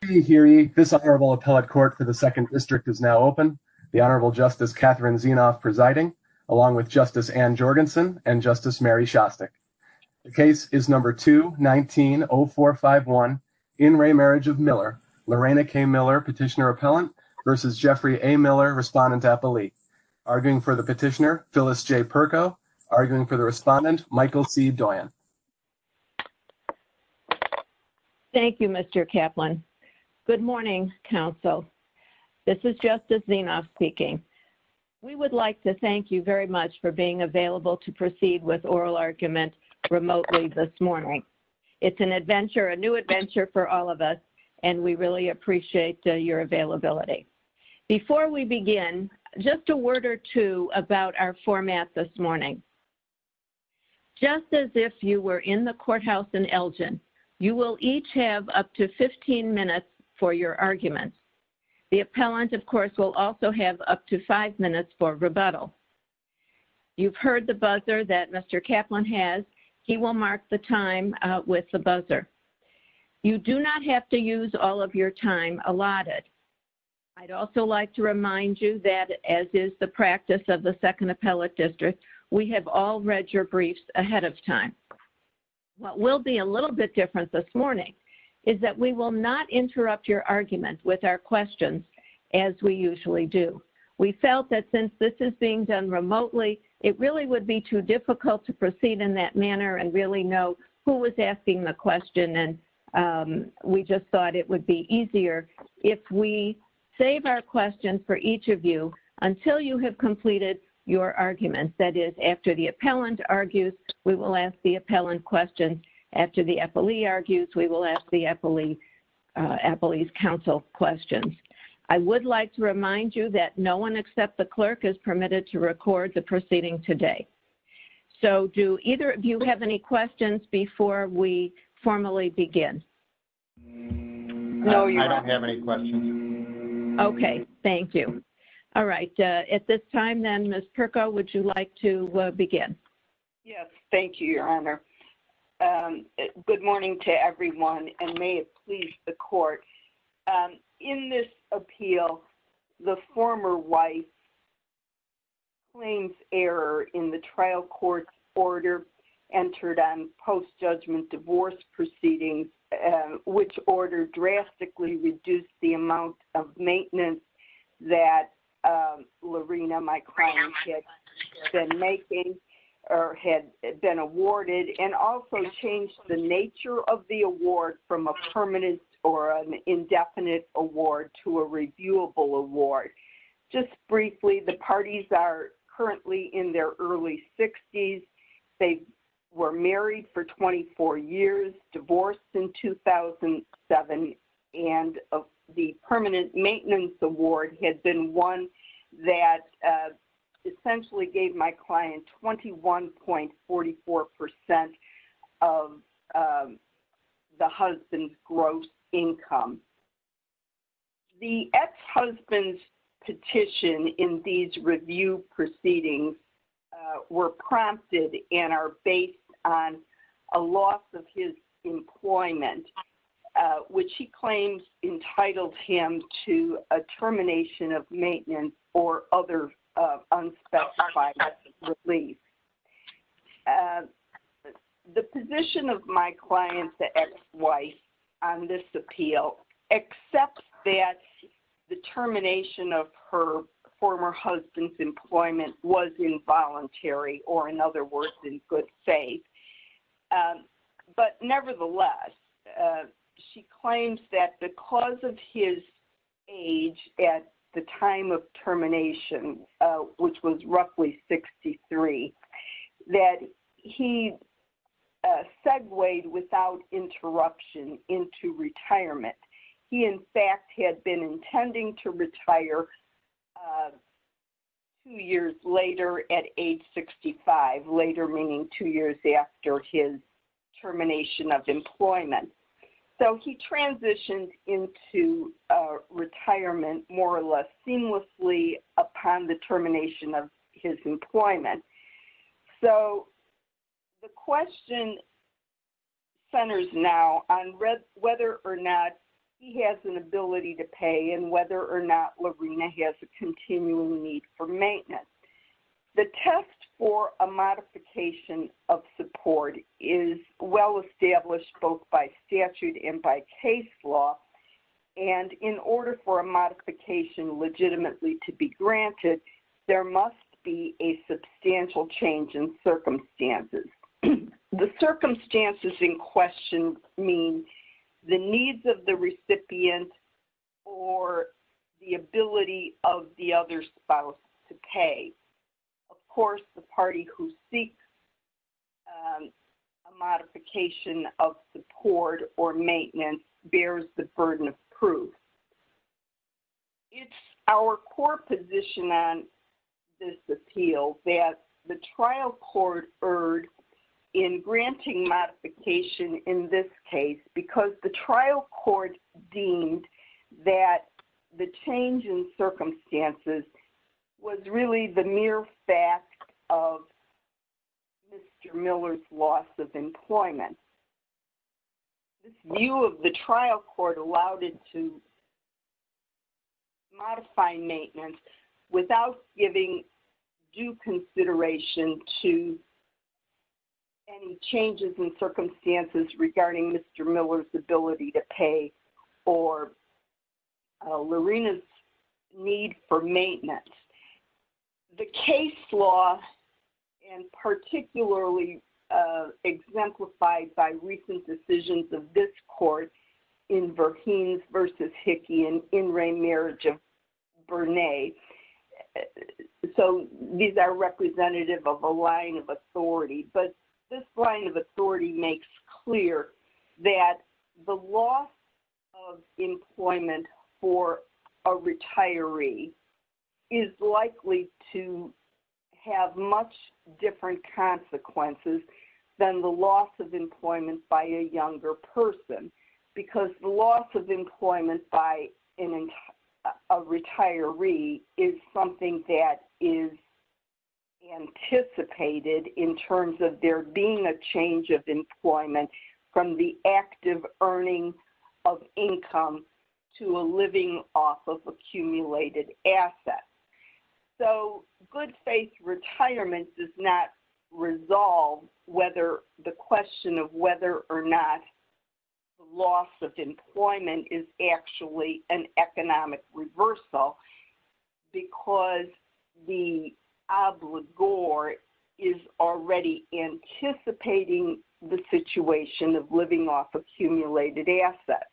This honorable appellate court for the second district is now open. The Honorable Justice Catherine Zenoff presiding, along with Justice Anne Jorgensen and Justice Mary Shostak. The case is number 2-19-0451, in re Marriage of Miller, Lorena K. Miller, Petitioner-Appellant versus Jeffrey A. Miller, Respondent-Appellee. Arguing for the Petitioner, Phyllis J. Perko. Arguing for the Respondent, Michael C. Doyon. Thank you, Mr. Kaplan. Good morning, counsel. This is Justice Zenoff speaking. We would like to thank you very much for being available to proceed with oral arguments remotely this morning. It's an adventure, a new adventure for all of us, and we really appreciate your availability. Before we begin, just a word or two about our format this morning. Just as if you were in the courthouse in Elgin, you will each have up to 15 minutes for your argument. The appellant, of course, will also have up to 5 minutes for rebuttal. You've heard the buzzer that Mr. Kaplan has. He will mark the time with the buzzer. You do not have to use all of your time allotted. I'd also like to remind you that, as is the practice of the Second Appellate District, we have all read your briefs ahead of time. What will be a little bit different this morning is that we will not interrupt your argument with our questions as we usually do. We felt that since this is being done remotely, it really would be too difficult to proceed in that manner and really know who was asking the question, and we just thought it would be easier if we save our questions for each of you until you have completed your arguments. That is, after the appellant argues, we will ask the appellant questions. After the appellee argues, we will ask the appellee's counsel questions. I would like to remind you that no one except the clerk is permitted to record the proceeding today. So, do either of you have any questions before we formally begin? No, you don't. I don't have any questions. Okay. Thank you. All right. At this time, then, Ms. Pirco, would you like to begin? Yes. Thank you, Your Honor. Good morning to everyone, and may it please the Court. In this appeal, the former wife claims error in the trial court order entered on post-judgment divorce proceedings, which order drastically reduced the amount of maintenance that Lorena Mikron had been making or had been awarded, and also changed the nature of the award from a permanent or an indefinite award to a reviewable award. Just briefly, the parties are currently in their early 60s. They were married for 24 years, divorced in 2007, and the permanent maintenance award had been one that essentially gave my client 21.44 percent of the husband's gross income. The ex-husband's petition in these review proceedings were prompted and are based on a loss of his employment, which he claims entitled him to a termination of maintenance or other unspecified release. The position of my client, the ex-wife, on this appeal, accepts that the termination of her former husband's employment was involuntary, or in other words, in good faith. But nevertheless, she claims that because of his age at the time of termination, which was roughly 63, that he segued without interruption into retirement. He in fact had been intending to retire two years later at age 65, later meaning two years after his termination of employment. So he transitioned into retirement more or less seamlessly upon the termination of his employment. So the question centers now on whether or not he has an ability to pay and whether or not Laverne has a continuing need for maintenance. The test for a modification of support is well-established both by statute and by case law. And in order for a modification legitimately to be granted, there must be a substantial change in circumstances. The circumstances in question mean the needs of the recipient or the ability of the other spouse to pay. Of course, the party who seeks a modification of support or maintenance bears the burden of proof. It's our core position on this appeal that the trial court erred in granting modification in this case because the trial court deemed that the change in circumstances was really the mere fact of Mr. Miller's loss of employment. This view of the trial court allowed it to modify maintenance without giving due consideration to any changes in circumstances regarding Mr. Miller's ability to pay or Laverne's need for maintenance. The case law, and particularly exemplified by recent decisions of this court in Verheen v. Hickey in In Re Marriage of Bernay. So, these are representative of a line of authority. But this line of authority makes clear that the loss of employment for a retiree is likely to have much different consequences than the loss of employment by a younger person. Because the loss of employment by a retiree is something that is anticipated in terms of there being a change of employment from the active earning of income to a living off of accumulated assets. So, good faith retirement does not resolve whether the question of whether or not loss of employment is actually an economic reversal because the obligor is already anticipating the situation of living off accumulated assets.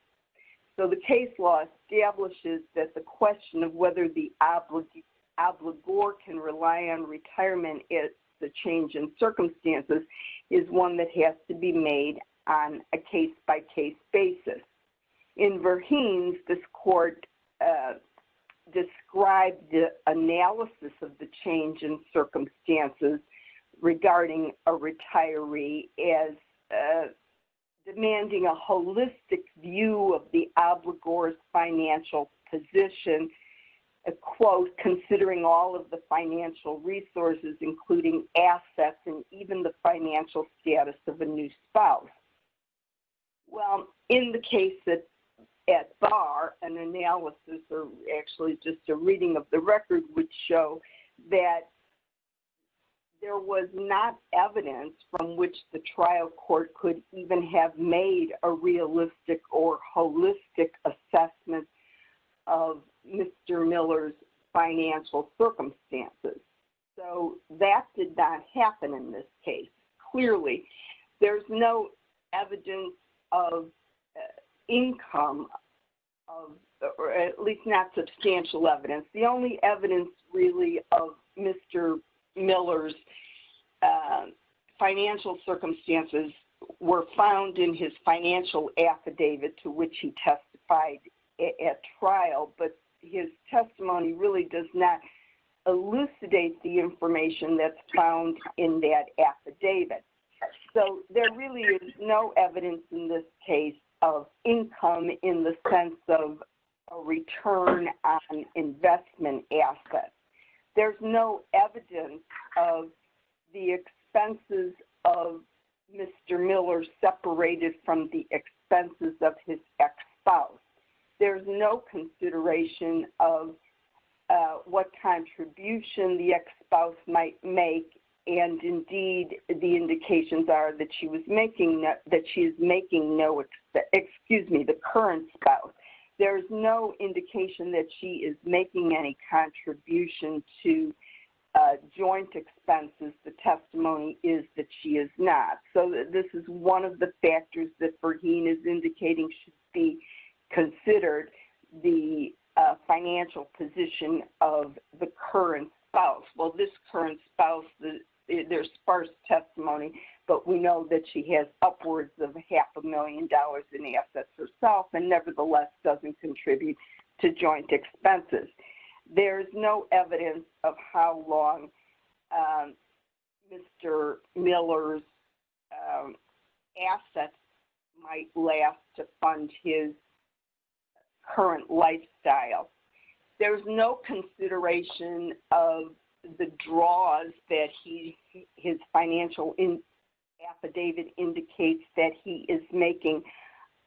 So, the case law establishes that the question of whether the obligor can rely on retirement is the change in circumstances is one that has to be made on a case-by-case basis. In Verheen, this court described the analysis of the change in circumstances regarding a holistic view of the obligor's financial position, a quote, considering all of the financial resources including assets and even the financial status of a new spouse. Well, in the case that's at bar, an analysis or actually just a reading of the record would show that there was not evidence from which the trial court could even have made a realistic or holistic assessment of Mr. Miller's financial circumstances. So, that did not happen in this case. Clearly, there's no evidence of income or at least not substantial evidence. The only evidence really of Mr. Miller's financial circumstances were found in his financial affidavit to which he testified at trial, but his testimony really does not elucidate the information that's found in that affidavit. So, there really is no evidence in this case of income in the sense of a return on investment assets. There's no evidence of the expenses of Mr. Miller separated from the expenses of his ex-spouse. There's no consideration of what contribution the ex-spouse might make and indeed, the indications are that she was making-that she is making no-excuse me, the current spouse. There's no indication that she is making any contribution to joint expenses. The testimony is that she is not. So, this is one of the factors that Bergen is indicating should be considered the financial position of the current spouse. Well, this current spouse, there's sparse testimony, but we know that she has upwards of half a million dollars in assets herself and nevertheless doesn't contribute to joint expenses. There's no evidence of how long Mr. Miller's assets might last to fund his current lifestyle. There's no consideration of the draws that his financial affidavit indicates that he is making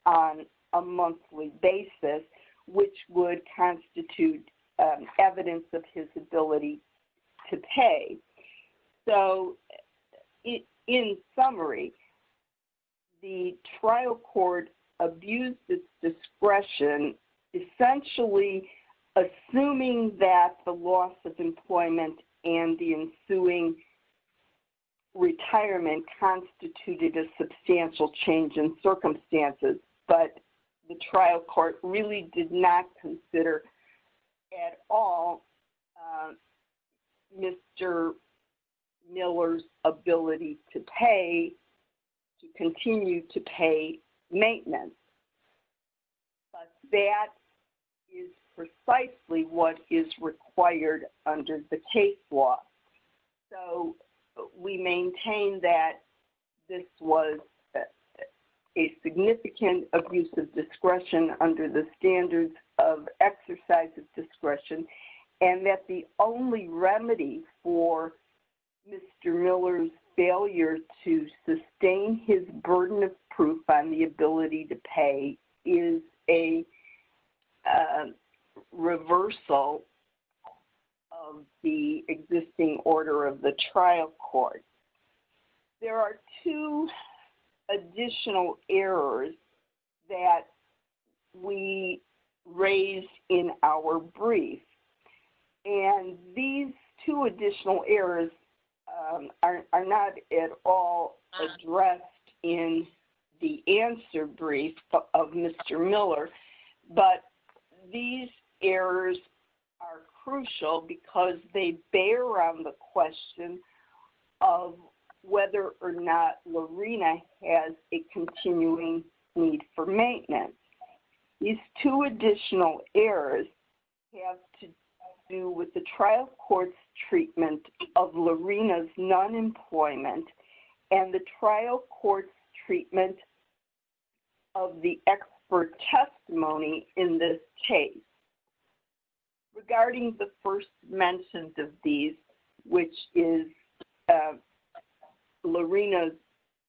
on a monthly basis, which would constitute evidence of his ability to pay. So, in summary, the trial court abused its discretion essentially assuming that the loss of employment and the ensuing retirement constituted a substantial change in circumstances, but the trial court really did not consider at all Mr. Miller's ability to pay-to continue to pay maintenance, but that is precisely what is required under the case law. So, we maintain that this was a significant abuse of discretion under the standards of exercise of discretion and that the only remedy for Mr. Miller's failure to sustain his burden of proof on the ability to pay is a reversal of the existing order of the trial court. There are two additional errors that we raise in our brief, and these two additional errors are not at all addressed in the answer brief of Mr. Miller, but these errors are crucial because they bear on the question of whether or not Lorena has a continuing need for maintenance. These two additional errors have to do with the trial court's treatment of Lorena's non-employment and the trial court's treatment of the expert testimony in this case. Regarding the first mentions of these, which is Lorena's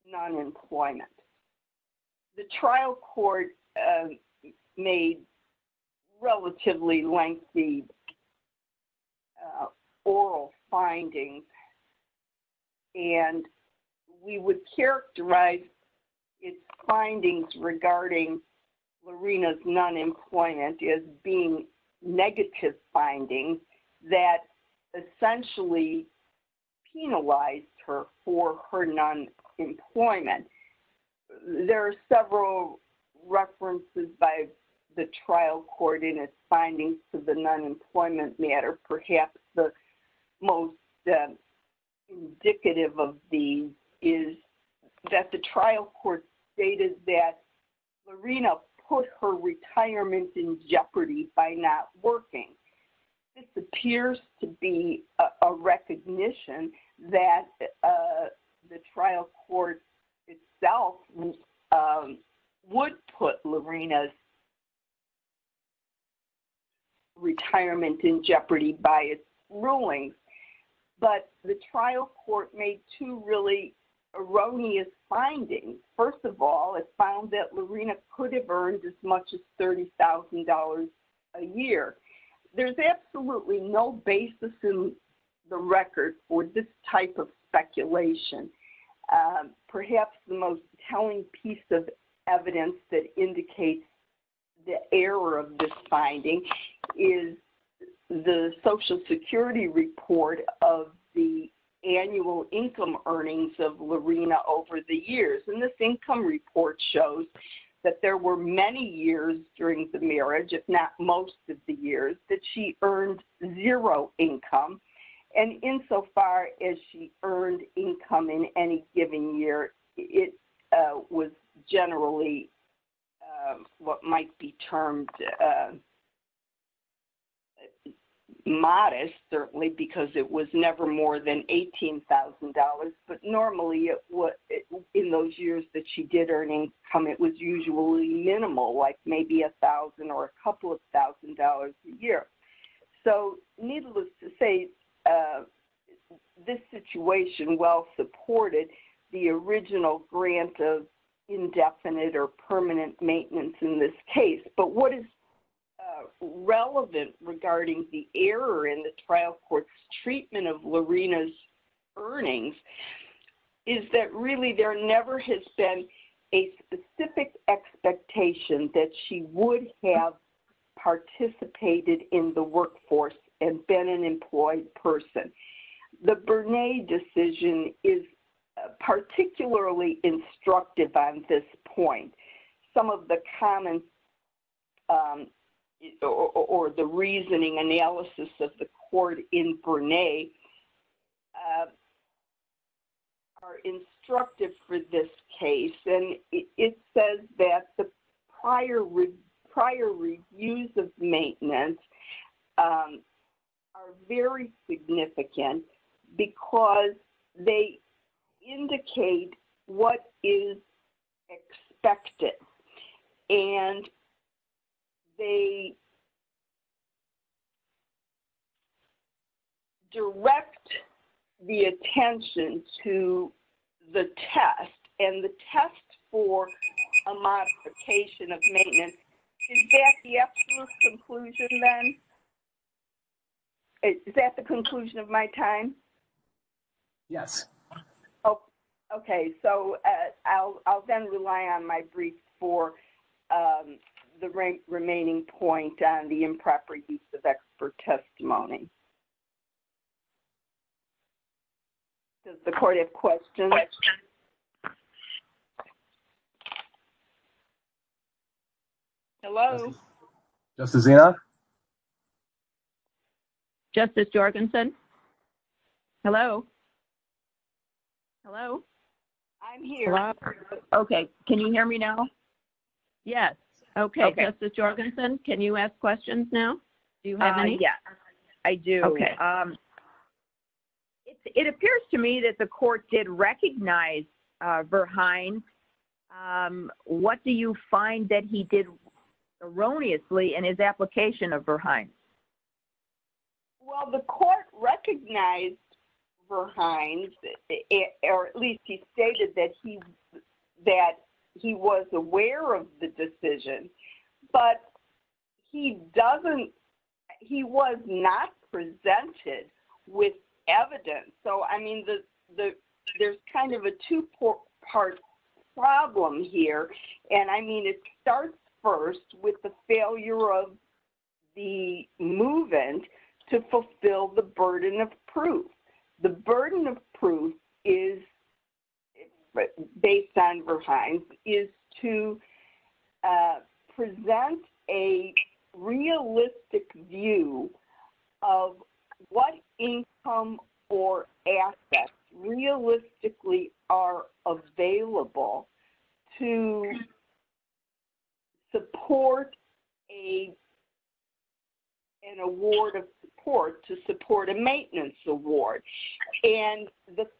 non-employment, the trial court made relatively lengthy oral findings, and we would characterize its findings regarding Lorena's non-employment as being negative findings that essentially penalized her for her non-employment. There are several references by the trial court in its findings to the non-employment matter. Perhaps the most indicative of these is that the trial court stated that Lorena put her retirement in jeopardy by not working. This appears to be a recognition that the trial court itself would put Lorena's retirement in jeopardy by its ruling, but the trial court made two really erroneous findings. First of all, it found that Lorena could have earned as much as $30,000 a year. There's absolutely no basis in the record for this type of speculation. Perhaps the most telling piece of evidence that indicates the error of this finding is the Social Security report of the annual income earnings of Lorena over the years, and this income report shows that there were many years during the marriage, if not most of the years, that she earned zero income, and insofar as she earned income in any given year, it was generally what might be termed modest, certainly, because it was never more than $18,000, but normally, in those years that she did earn income, it was usually minimal, like maybe $1,000 or a couple of thousand dollars a year. So, needless to say, this situation well supported the original grant of indefinite or permanent maintenance in this case, but what is burning is that really there never has been a specific expectation that she would have participated in the workforce and been an employed person. The Bernay decision is particularly instructive on this point. Some of the comments or the reasoning analysis of the court in Bernay are instructive for this case, and it says that the prior reviews of maintenance are very significant because they indicate what is expected, and they direct the attention to the test, and the test for a modification of maintenance. Is that the actual conclusion, then? Is that the conclusion of my time? Yes. Okay. So, I'll then rely on my brief for the remaining point on the improper use of expert testimony. Does the court have questions? Hello? Justice Enos? Justice Jorgensen? Hello? Hello? I'm here. Okay. Can you hear me now? Yes. Okay. Justice Jorgensen, can you ask questions now? Do you have any? Yes, I do. It appears to me that the court did recognize Verhines. What do you find that he did erroneously in his application of Verhines? Well, the court recognized Verhines, or at least he stated that he was aware of the decision, but he was not presented with evidence. So, I mean, there's kind of a two-part problem here, and, I mean, it starts first with the is-based on Verhines-is to present a realistic view of what income or assets realistically are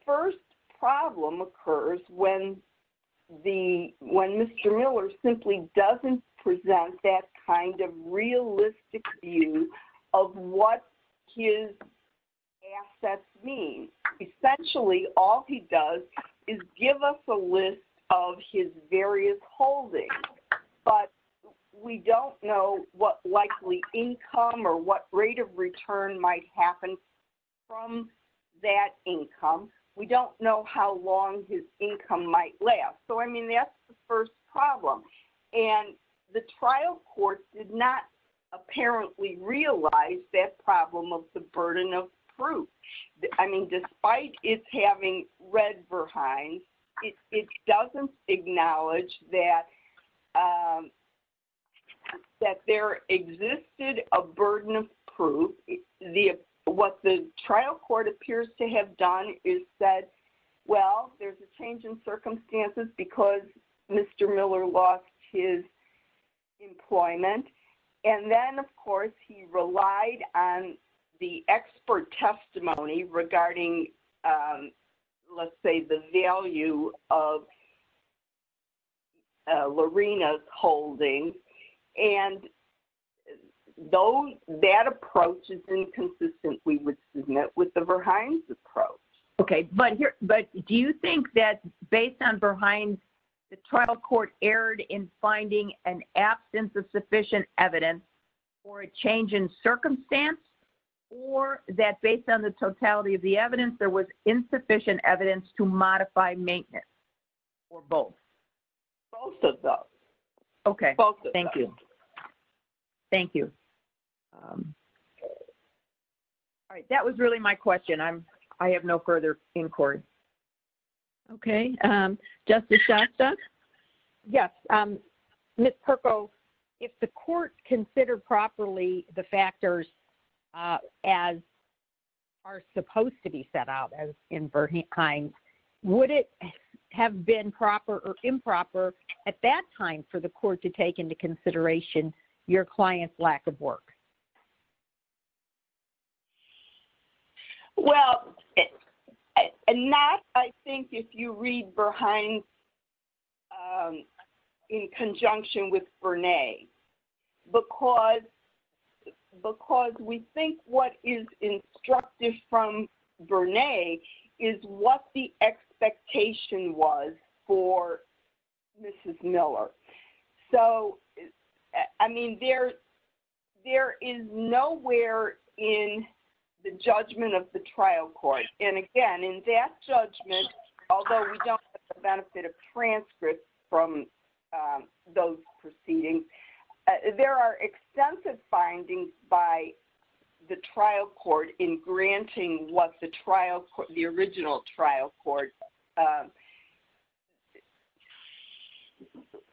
First problem occurs when Mr. Miller simply doesn't present that kind of realistic view of what his assets mean. Essentially, all he does is give us a list of his various holdings, but we don't know what likely income or what rate of return might happen from that income. We don't know how long his income might last. So, I mean, that's the first problem. And the trial court did not apparently realize that problem of the burden of proof. I mean, despite its having read Verhines, it doesn't acknowledge that there existed a burden of proof. What the trial court appears to have done is said, well, there's a change in circumstances because Mr. Miller lost his employment. And then, of course, he relied on the expert testimony regarding, let's say, the value of Lorena's holdings. And though that approach is inconsistent, we would submit with the Verhines approach. Okay. But do you think that based on Verhines, the trial court erred in finding an absence of sufficient evidence for a change in circumstance, or that based on the totality of the evidence, there was insufficient evidence to modify maintenance for both? Both of those. Okay. Thank you. Thank you. All right. That was really my question. I have no further inquiry. Okay. Justice Shasta? Yes. Ms. Perko, if the court considered properly the factors as are supposed to be set out in Verhines, would it have been proper or improper at that time for the court to take into consideration your client's lack of work? Well, not, I think, if you read Verhines in conjunction with Bernays, because we think what is instructed from Bernays is what the expectation was for Mrs. Miller. So, I mean, there is nowhere in the judgment of the trial court, and again, in that judgment, although we don't get the benefit of transcripts from those proceedings, there are extensive findings by the trial court in granting what the original trial court,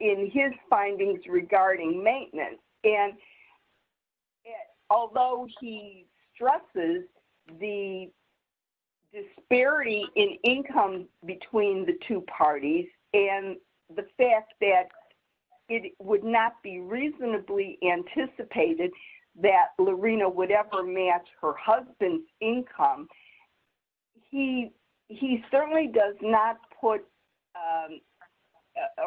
in his findings regarding maintenance. And although he stresses the disparity in income between the two parties and the fact that it would not be reasonably anticipated that Lorena would ever match her husband's income, he certainly does not put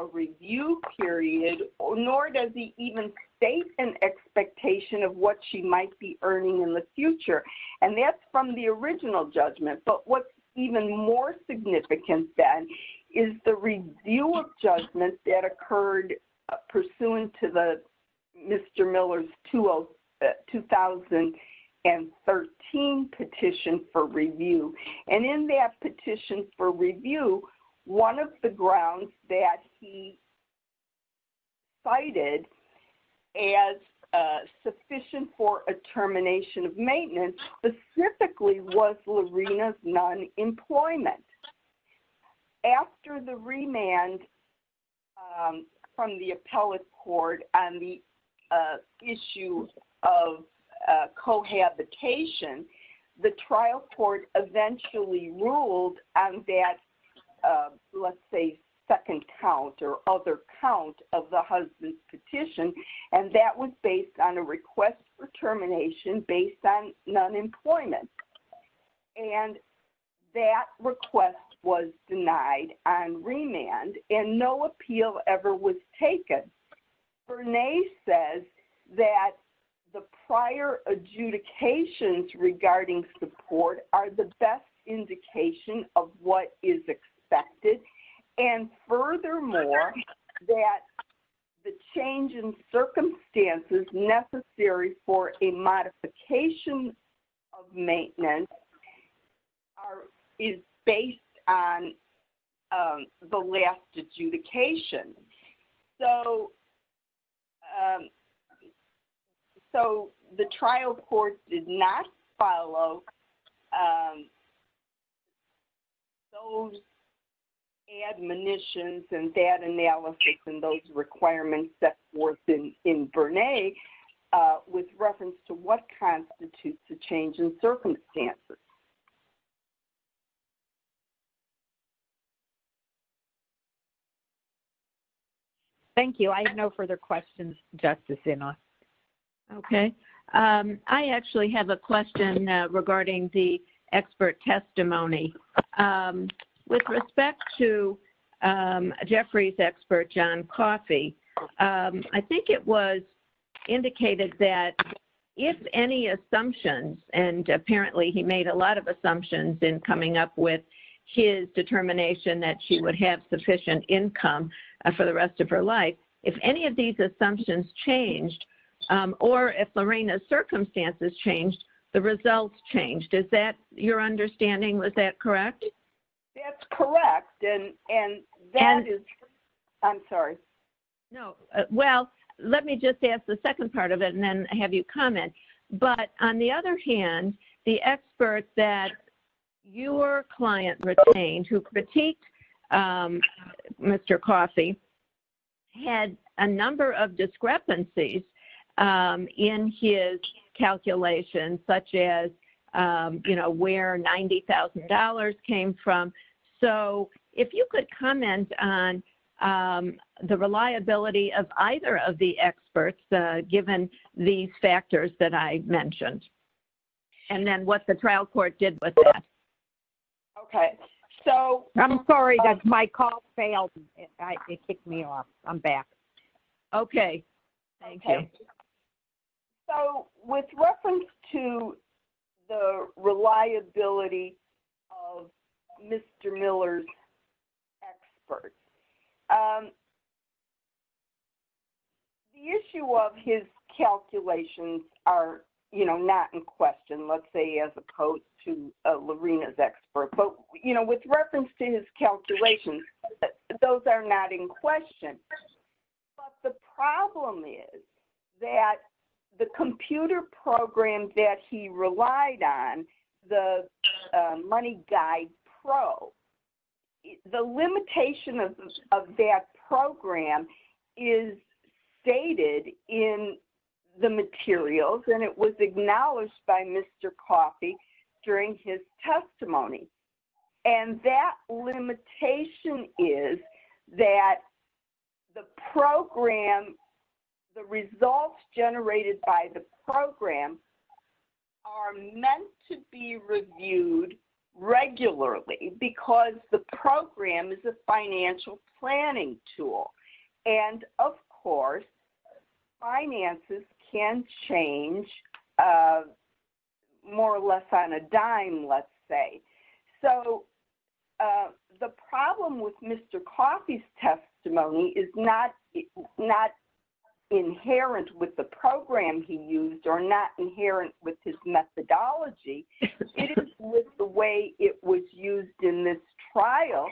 a review period, nor does he even state an expectation of what she might be earning in the future. And that's from the original judgment. But what's even more significant, then, is the review of judgment that occurred pursuant to Mr. Miller's 2013 petition for review. And in that petition for review, one of the grounds that he cited as sufficient for a termination of maintenance specifically was Lorena's non-employment. After the remand from the appellate court on the issue of cohabitation, the trial court eventually ruled on that, let's say, second count or other count of the husband's petition, and that was based on a request for termination based on non-employment. And that request was denied on remand, and no appeal ever was taken. Bernays says that the prior adjudications regarding support are the best indication of what is expected, and furthermore, that the change in circumstances necessary for a modification of maintenance is based on the last adjudication. So the trial court did not follow those admonitions and that analysis and those requirements that were in Bernays with reference to what constitutes the change in circumstances. MARY JO GIOVACCHINI Thank you. I have no further questions, Justice Enos. Okay. I actually have a question regarding the expert testimony. With respect to indicated that if any assumptions, and apparently he made a lot of assumptions in coming up with his determination that she would have sufficient income for the rest of her life, if any of these assumptions changed, or if Lorena's circumstances changed, the results changed, is that your understanding? Was that correct? That's correct. And that is, I'm sorry. LORENA IRWIN No. Well, let me just ask the second part of it and then have you comment. But on the other hand, the expert that your client retained, who critiqued Mr. Coffey, had a number of discrepancies in his calculations, such as, you know, where $90,000 came from. So if you could comment on the reliability of either of the experts, given these factors that I mentioned, and then what the trial court did with that. Okay. So I'm sorry, that's my call failed. It kicked me off. I'm back. Okay. Thank you. So with reference to the reliability of Mr. Miller's expert, the issue of his calculations are, you know, not in question, let's say, as opposed to Lorena's expert. But, you know, with reference to his calculations, those are not in question. But the problem is that the computer program that he relied on, the MoneyGuide Pro, the limitation of that program is stated in the materials, and it was acknowledged by Mr. Coffey during his testimony. And that limitation is that the program, the results generated by the program are meant to be reviewed regularly, because the program is a financial planning tool. And of course, finances can change more or less on a dime, let's say. So the problem with Mr. Miller's program he used are not inherent with his methodology. It is with the way it was used in this trial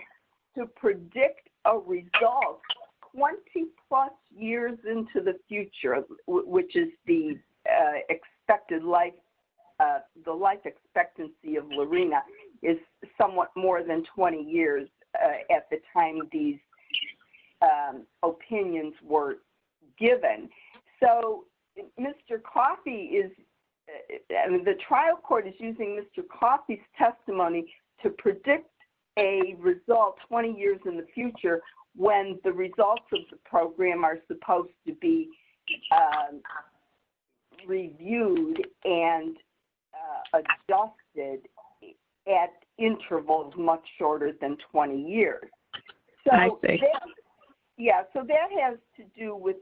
to predict a result 20 plus years into the future, which is the expected life, the life expectancy of Lorena is somewhat more than 20 years at the time these opinions were given. So Mr. Coffey is, the trial court is using Mr. Coffey's testimony to predict a result 20 years in the future, when the results of the program are supposed to be reviewed and adopted at intervals much shorter than 20 years. So that has to do with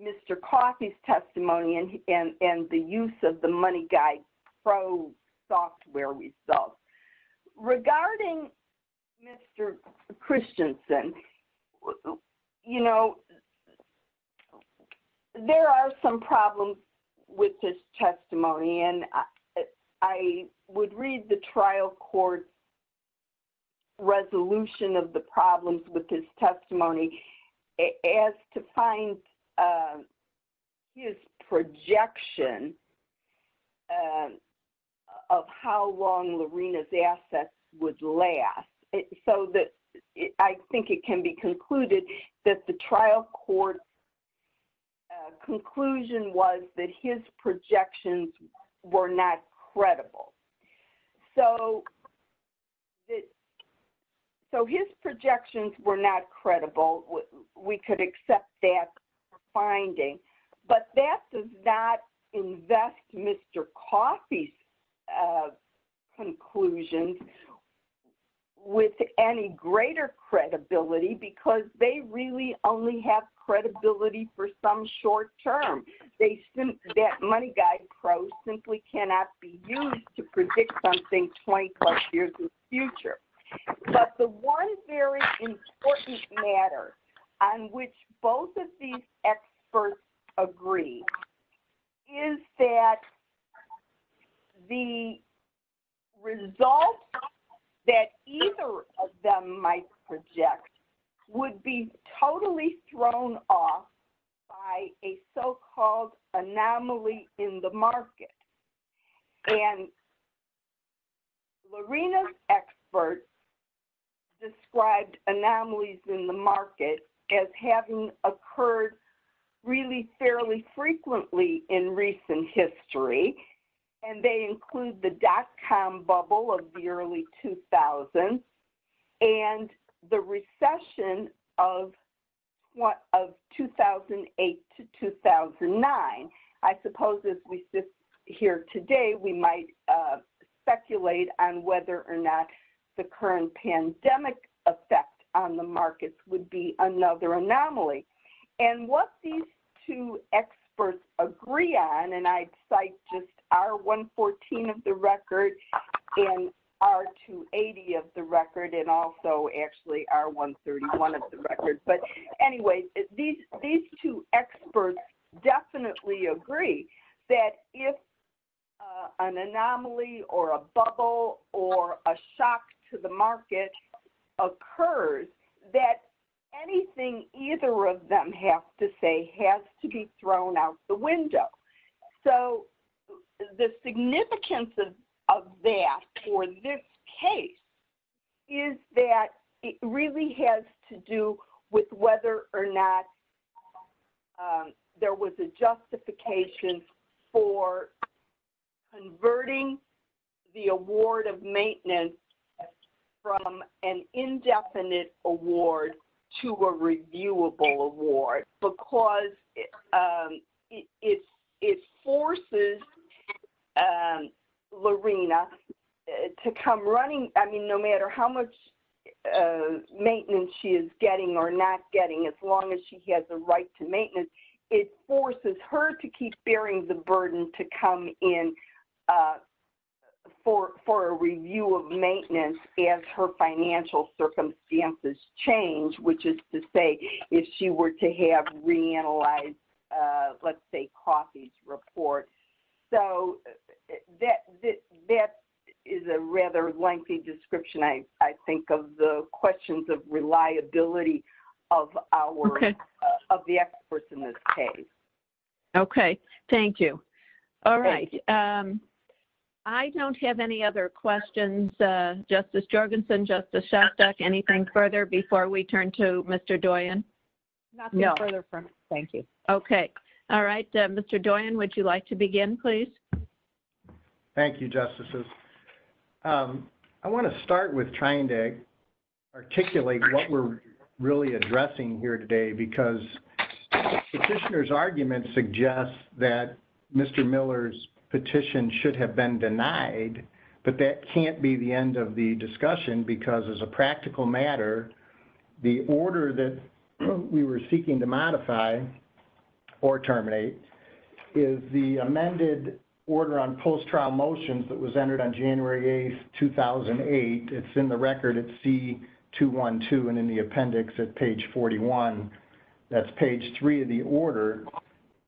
Mr. Coffey's testimony and the use of the MoneyGuide Pro software results. Regarding Mr. Christensen, you know, there are some problems with his testimony. And I would read the trial court resolution of the problems with his testimony as to find his projection of how long Lorena's assets would last. So that I think it can be concluded that the trial court conclusion was that his projections were not credible. So his projections were not credible, we could accept that finding. But that does not invest Mr. Coffey's conclusions with any greater credibility, because they really only have credibility for some short term. That MoneyGuide Pro simply cannot be used to predict something 20 plus years in the future. But the one very important matter on which both of these experts agree is that the result that either of them might project would be totally thrown off by a so called anomaly in the market. And Lorena's expert described anomalies in the market as having occurred really fairly frequently in recent history. And they include the dot com bubble of the early 2000s and the recession of 2008 to 2009. I suppose as we sit here today, we might speculate on whether or not the current pandemic effect on the markets would be another anomaly. And what these two also actually are 131 of the record. But anyway, these two experts definitely agree that if an anomaly or a bubble or a shock to the market occurs, that anything either of them have to say is that it really has to do with whether or not there was a justification for converting the award of maintenance from an indefinite award to a reviewable award, because it forces on Lorena to come running. I mean, no matter how much maintenance she is getting or not getting, as long as she has a right to maintenance, it forces her to keep bearing the burden to come in for a review of maintenance as her financial circumstances change, which is to say, if she were to have reanalyzed, let's say, Coffey's report. So that is a rather lengthy description, I think, of the questions of reliability of the experts in this case. Okay. Thank you. All right. I don't have any other questions. Justice Jorgensen, Justice Shostak, anything further before we turn to Mr. Doyen? No, thank you. Okay. All right. Mr. Doyen, would you like to begin, please? Thank you, Justices. I want to start with trying to articulate what we're really addressing here today, because Petitioner's argument suggests that Mr. Miller's petition should have been denied, but that can't be the end of the discussion because as a practical matter, the order that we were seeking to modify or terminate is the amended order on post-trial motions that was entered on January 8, 2008. It's in the record at C212 and in the appendix at page 41. That's page 3 of the order.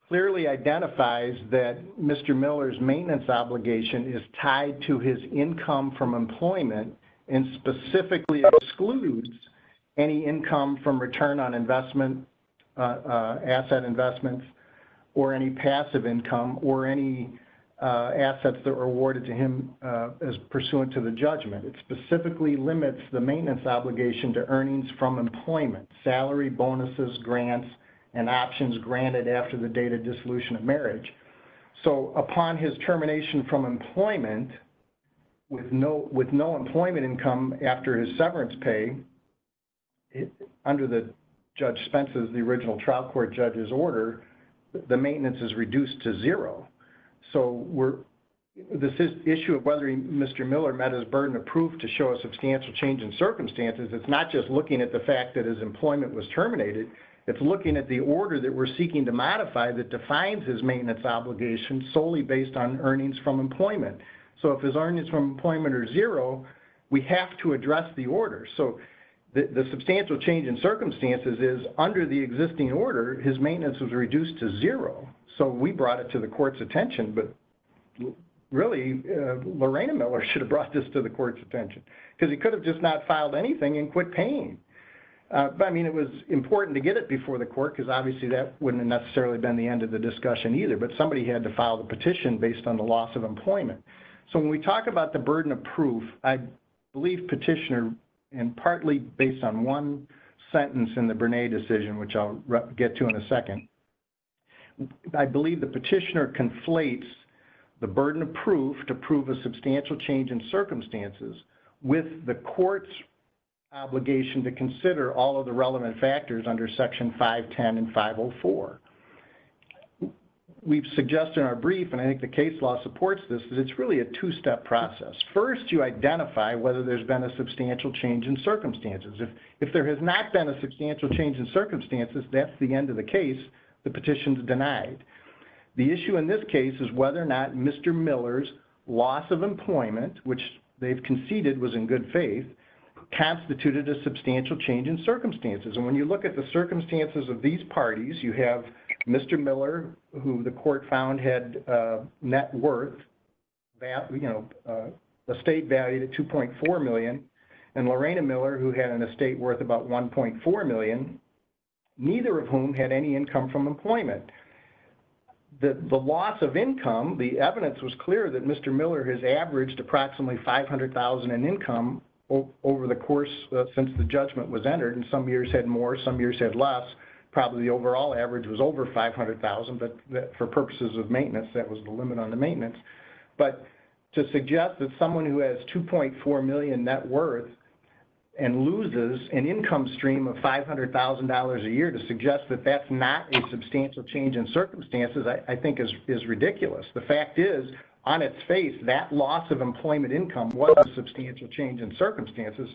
Clearly identifies that Mr. Miller's maintenance obligation is tied to his income from employment and specifically excludes any income from return on investment, asset investments, or any passive income or any assets that were awarded to him as pursuant to the judgment. It specifically limits the maintenance obligation to earnings from employment, salary, bonuses, grants, and options granted after the date of dissolution of marriage. So upon his termination from employment with no employment income after his severance pay, under Judge Spence's, the original trial court judge's order, the maintenance is reduced to zero. So this issue of whether Mr. Miller met his burden of proof to show a substantial change in circumstances, it's not just looking at the fact that his employment was terminated, it's looking at the order that we're seeking to modify that defines his maintenance obligation solely based on earnings from employment. So if his earnings from employment are zero, we have to address the order. So the substantial change in circumstances is under the existing order, his maintenance was reduced to zero. So we brought it to the court's attention, but really, Lorraine Miller should have brought this to the court's attention because he could have just not filed anything and quit paying. But I mean, it was important to get it before the court because obviously that wouldn't have necessarily been the end of the discussion either, but somebody had to file the petition based on the loss of employment. So when we talk about the burden of proof, I believe petitioner, and partly based on one sentence in the Bernay decision, which I'll get to in a second, I believe the petitioner conflates the burden of proof to the court's obligation to consider all of the relevant factors under section 510 and 504. We've suggested in our brief, and I think the case law supports this, that it's really a two-step process. First, you identify whether there's been a substantial change in circumstances. If there has not been a substantial change in circumstances, that's the end of the case, the petition is denied. The issue in this case is whether or not Mr. Miller's loss of employment, which they've in good faith, constituted a substantial change in circumstances. And when you look at the circumstances of these parties, you have Mr. Miller, who the court found had net worth, the state valued at $2.4 million, and Lorena Miller, who had an estate worth about $1.4 million, neither of whom had any income from employment. The loss of income, the evidence was clear that approximately $500,000 in income over the course since the judgment was entered, and some years had more, some years had less, probably the overall average was over $500,000, but for purposes of maintenance, that was the limit on the maintenance. But to suggest that someone who has $2.4 million net worth and loses an income stream of $500,000 a year, to suggest that that's not a substantial change in circumstances, I think is ridiculous. The fact is, on its face, that loss of employment income was a substantial change in circumstances.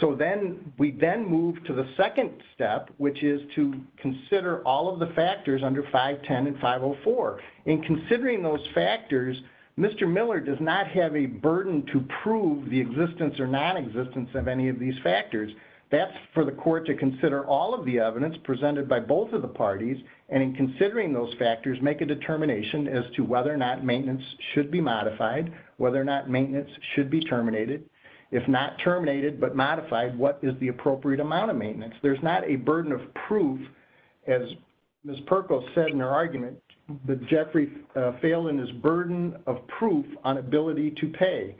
So then we then move to the second step, which is to consider all of the factors under 510 and 504. In considering those factors, Mr. Miller does not have a burden to prove the existence or non-existence of any of these factors. That's for the court to consider all of the evidence presented by both of the parties, and in considering those factors, make a determination as to whether or not maintenance should be modified, whether or not maintenance should be terminated. If not terminated but modified, what is the appropriate amount of maintenance? There's not a burden of proof, as Ms. Perkles said in her argument, that Jeffrey Phelan is burden of proof on ability to pay.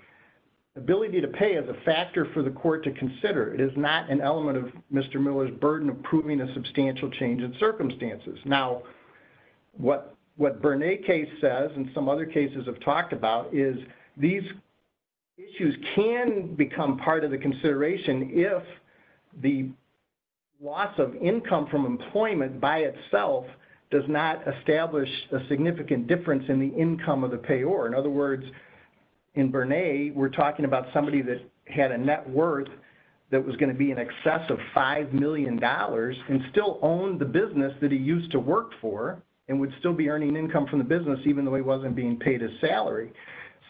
Ability to pay is a factor for the court to consider. It is not an element of Mr. Miller's burden of proving a substantial change in circumstances. Now, what Bernays case says, and some other cases have talked about, is these issues can become part of the consideration if the loss of income from employment by itself does not establish a significant difference in the income of the payor. In other words, in Bernays, we're talking about somebody that had a net worth that was going to be in excess of $5 million and still owned the business that he used to work for and would still be earning income from the business even though he wasn't being paid his salary.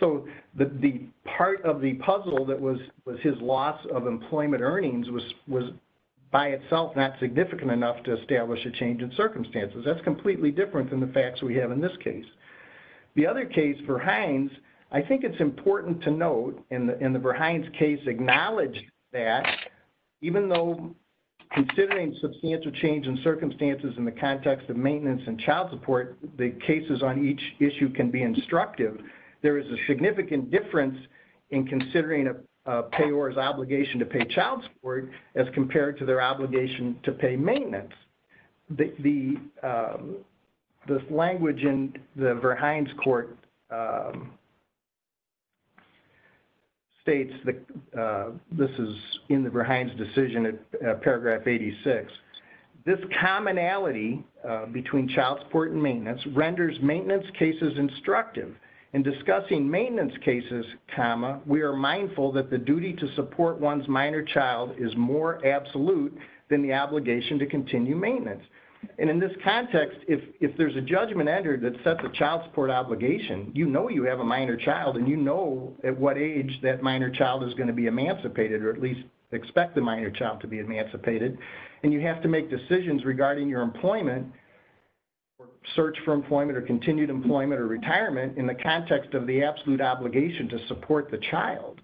So the part of the puzzle that was his loss of employment earnings was by itself not significant enough to establish a change in circumstances. That's completely different than the facts we have in this case. The other case, Verhines, I think it's important to note, and the Verhines case acknowledged that, even though considering substantial change in circumstances in the context of maintenance and child support, the cases on each issue can be instructive, there is a significant difference in considering a payor's obligation to pay child support as compared to their obligation to pay child support. The Verhines court states that this is in the Verhines decision at paragraph 86. This commonality between child support and maintenance renders maintenance cases instructive. In discussing maintenance cases, comma, we are mindful that the duty to support one's minor child is more absolute than the obligation to continue maintenance. And in this context, if there's a judgment entered that sets a child support obligation, you know you have a minor child and you know at what age that minor child is going to be emancipated or at least expect the minor child to be emancipated, and you have to make decisions regarding your employment or search for employment or continued employment or retirement in the context of the absolute obligation to support the child.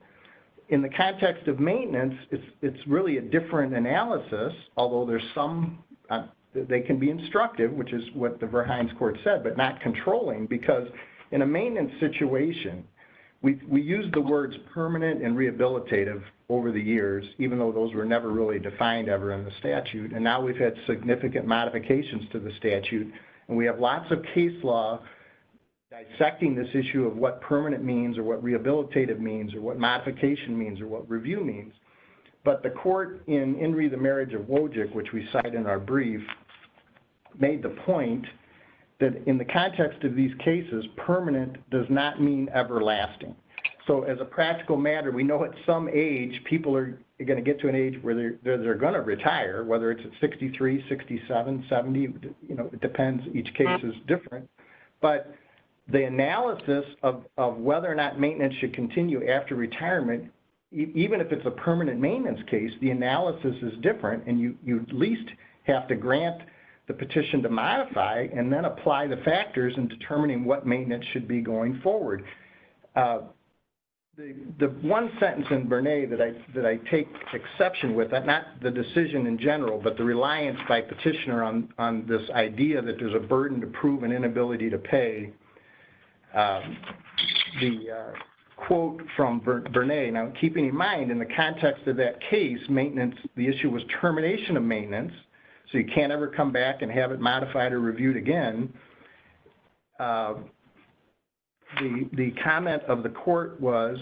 In the context of maintenance, it's really a different analysis, although there's some, they can be instructive, which is what the Verhines court said, but not controlling because in a maintenance situation, we use the words permanent and rehabilitative over the years, even though those were never really defined ever in the statute, and now we've had significant modifications to the statute, and we have lots of case law dissecting this issue of what permanent means or what rehabilitative means or what modification means or what review means. But the court in Henry the Marriage of Wojcik, which we cite in our brief, made the point that in the context of these cases, permanent does not mean everlasting. So as a practical matter, we know at some age, people are going to get to an age where they're going to retire, whether it's at 63, 67, 70, you know, it depends, each case is different. But the analysis of whether or not it's a permanent maintenance case, the analysis is different, and you at least have to grant the petition to modify and then apply the factors in determining what maintenance should be going forward. The one sentence in Verhines that I take exception with, not the decision in general, but the reliance by petitioner on this idea that there's a burden to prove and inability to pay, the quote from Verhines. Now keeping in mind in the context of that case, maintenance, the issue was termination of maintenance, so you can't ever come back and have it modified or reviewed again. The comment of the court was,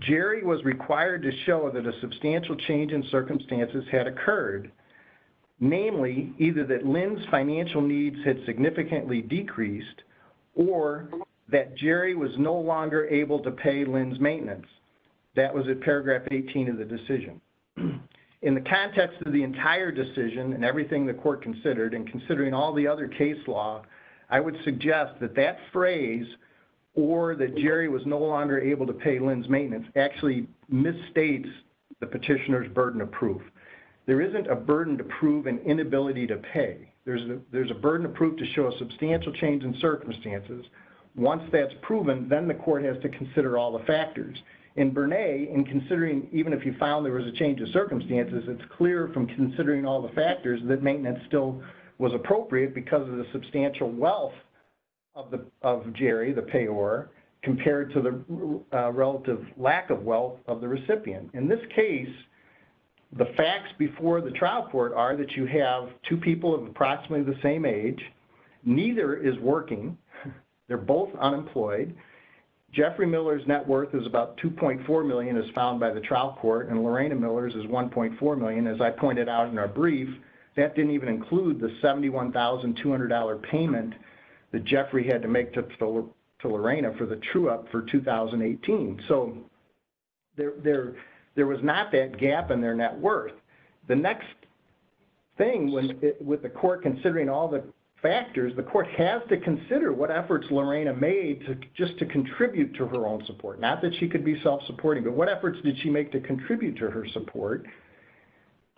Jerry was required to show that a substantial change in or that Jerry was no longer able to pay Lynn's maintenance. That was at paragraph 18 of the decision. In the context of the entire decision and everything the court considered and considering all the other case law, I would suggest that that phrase, or that Jerry was no longer able to pay Lynn's maintenance, actually misstates the petitioner's burden of proof. There isn't a burden of proof to show a substantial change in circumstances. Once that's proven, then the court has to consider all the factors. In Bernay, in considering even if you found there was a change in circumstances, it's clear from considering all the factors that maintenance still was appropriate because of the substantial wealth of Jerry, the payor, compared to the relative lack of wealth of the recipient. In this case, the facts before the trial court are that you have two people of the same age. Neither is working. They're both unemployed. Jeffrey Miller's net worth is about $2.4 million as found by the trial court, and Lorena Miller's is $1.4 million. As I pointed out in our brief, that didn't even include the $71,200 payment that Jeffrey had to make to Lorena for the true-up for 2018. There was not that gap in their net worth. The next thing with the court considering all the factors, the court has to consider what efforts Lorena made just to contribute to her own support. Not that she could be self-supporting, but what efforts did she make to contribute to her support?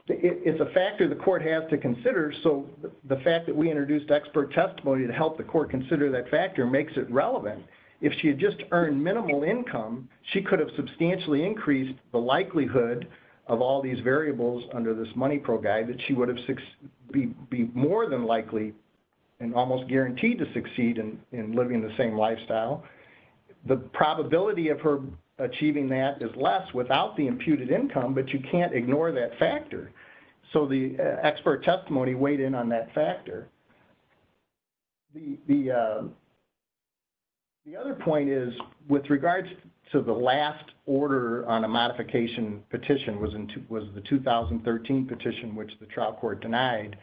It's a factor the court has to consider, so the fact that we introduced expert testimony to help the court consider that factor makes it relevant. If she had just earned minimal income, she could have substantially increased the likelihood of all these variables under this money program that she would have been more than likely and almost guaranteed to succeed in living the same lifestyle. The probability of her achieving that is less without the imputed income, but you can't ignore that factor, so the expert testimony weighed in on that factor. The other point is with regards to the last order on a modification petition was the 2013 petition which the trial court denied.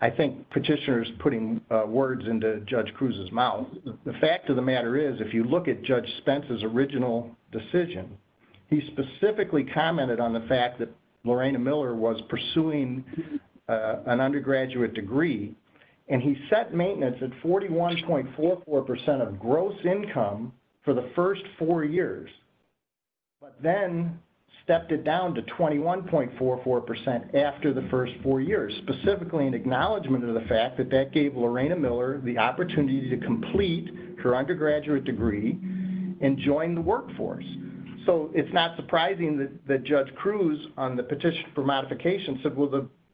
I think petitioners putting words into Judge Cruz's mouth. The fact of the matter is if you look at Judge Spence's original decision, he specifically commented on the fact that Lorena Miller was pursuing an undergraduate degree and he set maintenance at 41.44% of gross income for the first four years, but then stepped it down to 21.44% after the first four years, specifically an acknowledgment of the fact that that gave Lorena Miller the opportunity to complete her undergraduate degree and join the workforce, so it's not surprising that Judge Cruz on the petition for modification said, well,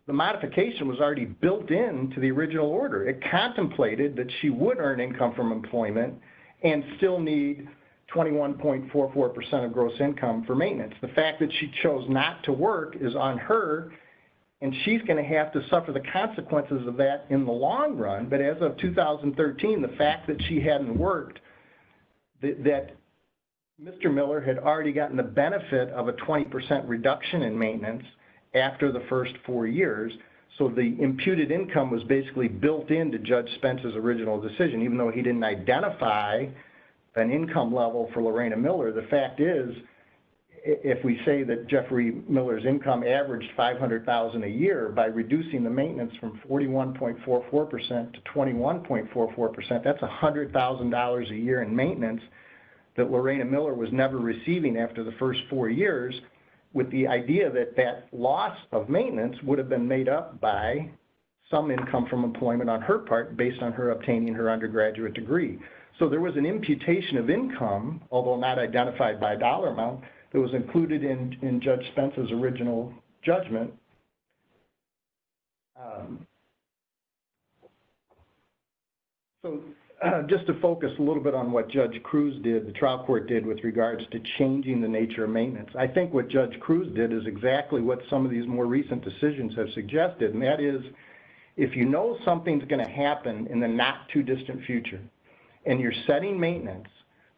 the modification was built into the original order. It contemplated that she would earn income from employment and still need 21.44% of gross income for maintenance. The fact that she chose not to work is on her, and she's going to have to suffer the consequences of that in the long run, but as of 2013, the fact that she hadn't worked, that Mr. Miller had already gotten the benefit of a 20% reduction in maintenance after the first four years, so the imputed income was basically built into Judge Spence's original decision, even though he didn't identify an income level for Lorena Miller. The fact is, if we say that Jeffrey Miller's income averaged $500,000 a year by reducing the maintenance from 41.44% to 21.44%, that's $100,000 a year in maintenance that Lorena Miller was never receiving after the first four years, with the idea that that loss of maintenance would have been made up by some income from employment on her part based on her obtaining her undergraduate degree. So there was an imputation of income, although not identified by a dollar amount, that was included in Judge Spence's original judgment. So just to focus a little bit on what Judge Cruz did, the changing the nature of maintenance. I think what Judge Cruz did is exactly what some of these more recent decisions have suggested, and that is, if you know something's going to happen in the not too distant future, and you're setting maintenance,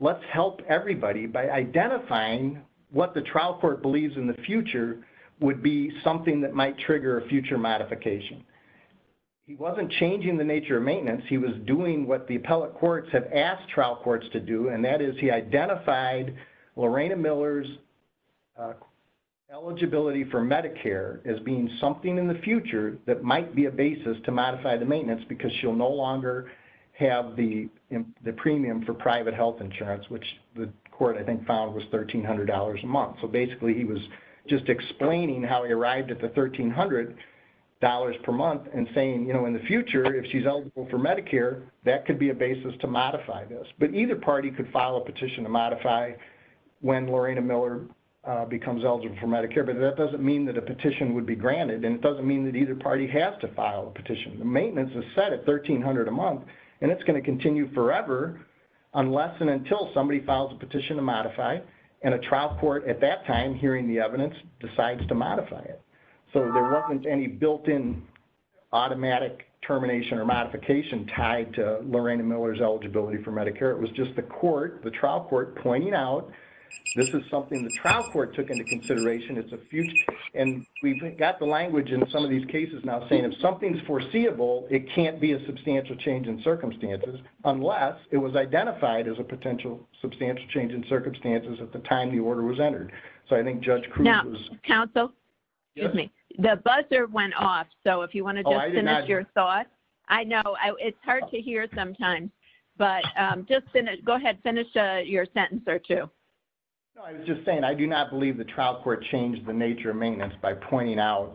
let's help everybody by identifying what the trial court believes in the future would be something that might trigger a future modification. He wasn't changing the nature of maintenance, he was doing what the appellate courts have asked trial courts to do, and that is he identified Lorena Miller's eligibility for Medicare as being something in the future that might be a basis to modify the maintenance because she'll no longer have the premium for private health insurance, which the court I think found was $1,300 a month. So basically he was just explaining how he arrived at the $1,300 per month and saying, you know, in the party could file a petition to modify when Lorena Miller becomes eligible for Medicare, but that doesn't mean that a petition would be granted, and it doesn't mean that either party has to file a petition. The maintenance is set at $1,300 a month, and it's going to continue forever unless and until somebody files a petition to modify, and a trial court at that time, hearing the evidence, decides to modify it. So there wasn't any built-in automatic termination or modification tied to Lorena Miller's eligibility for Medicare. It was just the court, the trial court, pointing out this is something the trial court took into consideration. It's a future, and we got the language in some of these cases now saying if something's foreseeable, it can't be a substantial change in circumstances unless it was identified as a potential substantial change in circumstances at the time the order was entered. So I think Judge Cruz... Now, counsel, excuse me, the buzzer went off, so if you want to just send us your thoughts, I know it's hard to hear sometimes, but just finish, go ahead, finish your sentence or two. No, I was just saying I do not believe the trial court changed the nature of maintenance by pointing out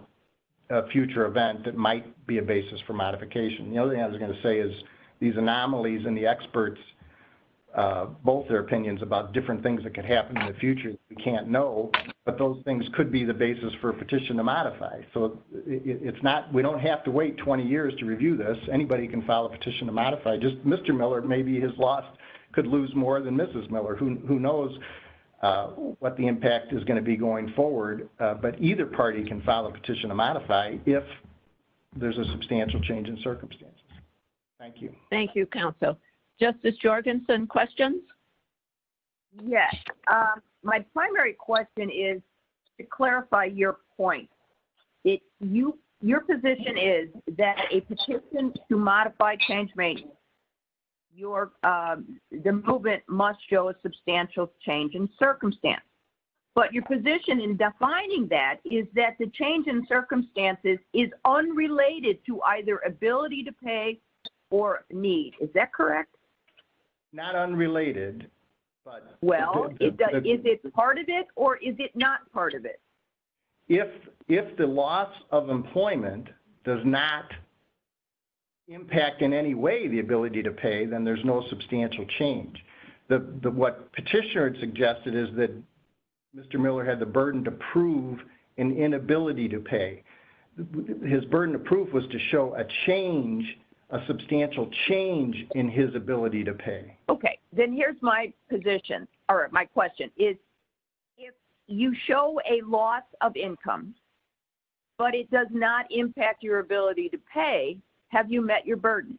a future event that might be a basis for modification. The other thing I was going to say is these anomalies and the experts, both their opinions about different things that can happen in the future that we can't know, but those things could be the basis for a petition to modify. So it's not, we don't have to wait 20 years to review this. Anybody can file a petition to modify. Just Mr. Miller, maybe his loss could lose more than Mrs. Miller, who knows what the impact is going to be going forward, but either party can file a petition to modify if there's a substantial change in circumstances. Thank you. Thank you, counsel. Justice Jorgenson, questions? Yes, my primary question is to clarify your point. Your position is that a petition to modify change maintenance, the movement must show a substantial change in circumstance, but your position in defining that is that the change in circumstances is unrelated to either ability to pay or need. Is that correct? Not unrelated. Well, is it part of it or is it not part of it? If the loss of employment does not impact in any way the ability to pay, then there's no substantial change. What Petitioner had suggested is that Mr. Miller had the burden to prove an inability to pay. His burden to prove was to show a change, a substantial change in his ability to pay. Okay, then here's my position or my question. If you show a loss of income, but it does not impact your ability to pay, have you met your burden?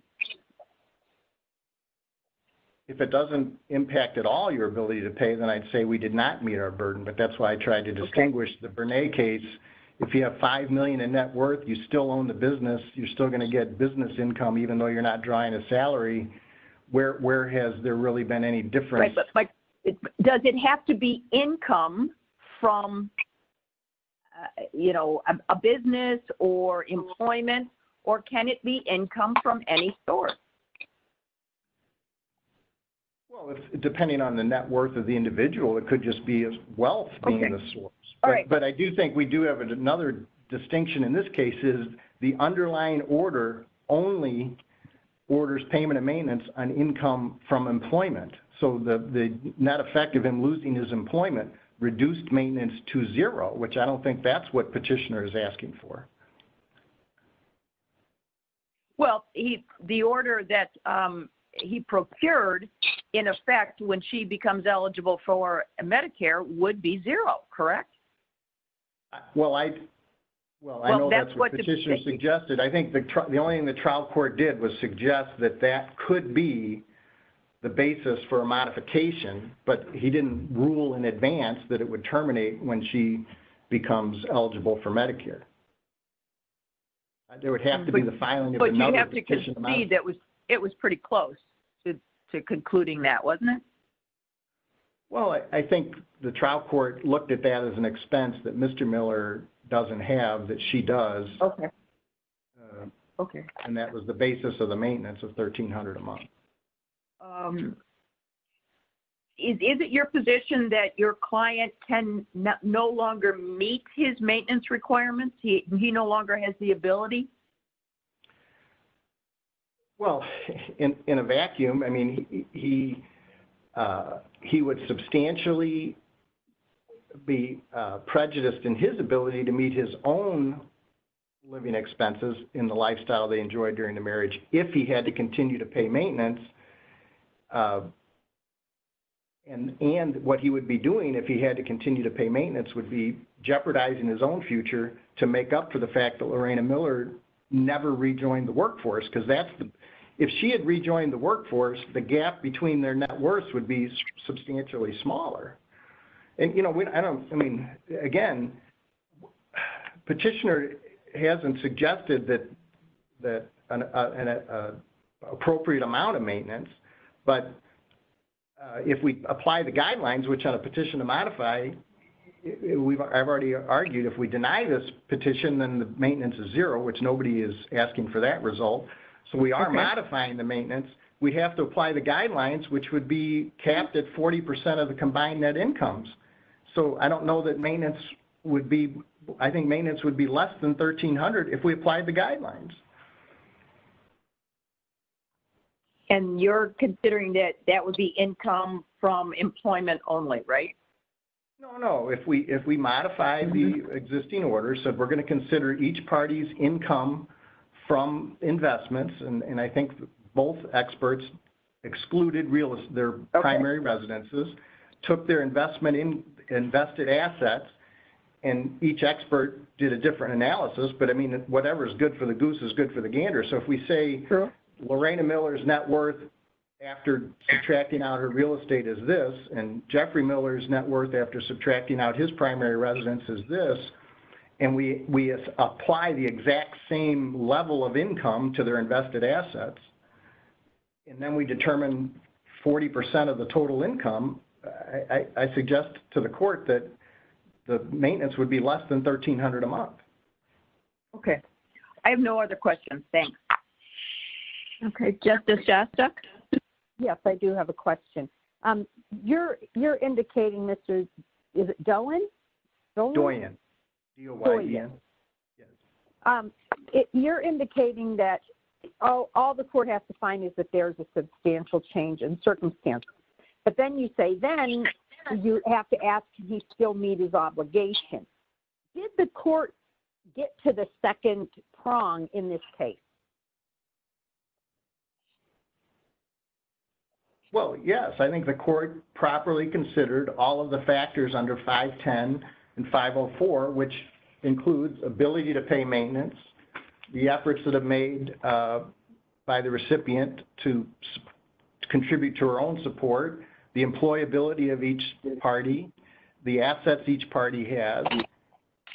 If it doesn't impact at all your ability to pay, then I'd say we did not meet our burden, but that's why I tried to distinguish the Bernay case. If you have $5 million in net worth, you still own the business, you're still going to get business income even though you're not drawing a salary. Where has there really been any difference? Does it have to be income from a business or employment or can it be income from any source? Well, it's depending on the net worth of the individual. It could just be as wealth being the source. But I do think we do have another distinction in this case is the underlying order only orders payment and maintenance on income from employment. So the net effect of him losing his employment reduced maintenance to zero, which I don't think that's what Petitioner is asking for. Well, the order that he procured, in effect, when she becomes eligible for Medicare would be zero, correct? Well, I know that's what Petitioner suggested. I think the only thing the trial court did was suggest that that could be the basis for a modification, but he didn't rule in advance that it would terminate when she becomes eligible for Medicare. It would have to be the filing of the medical petition. But you have to concede that it was pretty close to concluding that, wasn't it? Well, I think the trial court looked at that as an expense that Mr. Miller doesn't have, that she does. And that was the basis of the maintenance of $1,300 a month. Is it your position that your client can no longer meet his maintenance requirements? He no longer has the ability? Well, in a vacuum, I mean, he would substantially be prejudiced in his ability to meet his own living expenses in the lifestyle they enjoyed during the marriage if he had to continue to pay maintenance. And what he would be doing if he had to continue to pay maintenance would be make up for the fact that Lorena Miller never rejoined the workforce. If she had rejoined the workforce, the gap between their net worth would be substantially smaller. Again, Petitioner hasn't suggested an appropriate amount of maintenance, but if we apply the guidelines, which on a petition to modify, I've already argued if we deny this petition, then the maintenance is zero, which nobody is asking for that result. So we are modifying the maintenance. We have to apply the guidelines, which would be capped at 40% of the combined net incomes. So I don't know that maintenance would be, I think maintenance would be less than $1,300 if we applied the guidelines. And you're considering that that would be income from employment only, right? No, if we modify the existing order, so we're going to consider each party's income from investments. And I think both experts excluded their primary residences, took their investment in invested assets, and each expert did a different analysis. But I mean, whatever is good for the goose is good for the gander. So if we say Lorena Miller's net worth after subtracting out her real estate is this, and Jeffrey Miller's net worth after subtracting out his primary residence is this, and we apply the exact same level of income to their invested assets, and then we determine 40% of the total income, I suggest to the court that the maintenance would be less than $1,300 a month. Okay. I have no other questions. Thanks. Okay, Justice Gossett. Yes, I do have a question. You're, you're indicating this is, is it Doyin? If you're indicating that all the court has to find is that there's a substantial change in circumstances, but then you say then you have to ask, he still meet his obligation. Did the court get to the second prong in this case? Well, yes, I think the court properly considered all of the factors under 510 and 504, which includes ability to pay maintenance, the efforts that have made by the recipient to contribute to her own support, the employability of each party, the assets each party has,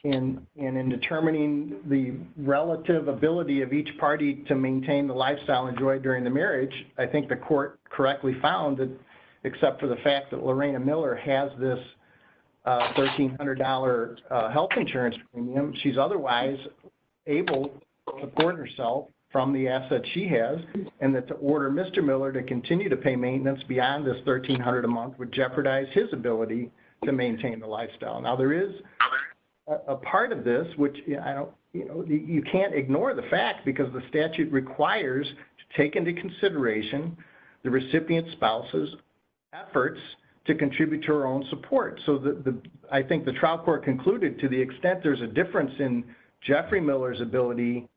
and in determining the relative ability of each party to maintain the lifestyle enjoyed during the marriage, I think the court correctly found that except for the fact that Lorena Miller has this $1,300 health insurance premium, she's otherwise able to support herself from the assets she has, and that to order Mr. Miller to continue to pay maintenance beyond this $1,300 a month would jeopardize his ability to maintain the lifestyle. Now, there is a part of this, which I don't, you know, you can't ignore the fact because the statute requires to take into consideration the recipient spouse's efforts to contribute to her own support. So the, I think the trial court concluded to the extent there's a difference in Jeffrey Miller's ability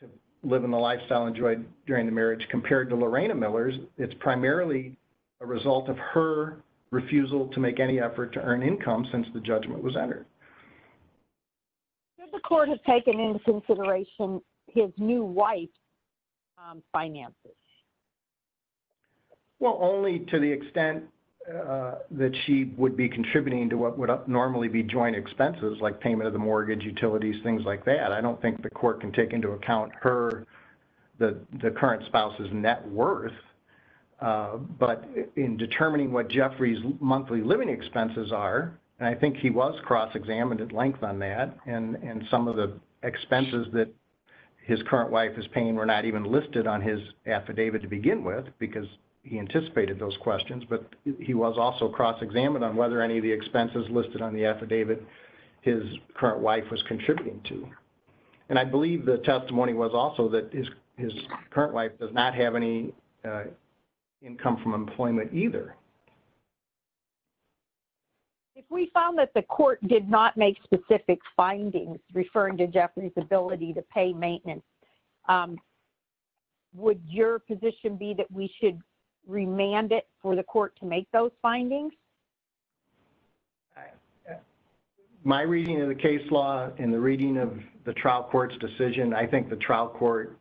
to live in a lifestyle enjoyed during the marriage compared to Lorena Miller's, it's primarily a result of her refusal to make any effort to earn income since the judgment was entered. Did the court have taken into consideration his new wife's finances? Well, only to the extent that she would be contributing to what would normally be joint expenses, like payment of the mortgage, utilities, things like that. I don't think the court can take into account her, the current spouse's net worth, but in determining what Jeffrey's monthly living expenses are, and I think he was cross-examined at length on that, and some of the expenses that his current wife is paying were not even listed on his affidavit to begin with because he anticipated those questions, but he was also cross-examined on whether any of the expenses listed on the affidavit his current wife was contributing to. And I believe the testimony was also that his current wife does not have any income from employment either. If we found that the court did not make specific findings referring to Jeffrey's ability to pay maintenance, would your position be that we should remand it for the court to make those findings? My reading of the case law and the reading of the trial court's decision, I think the trial court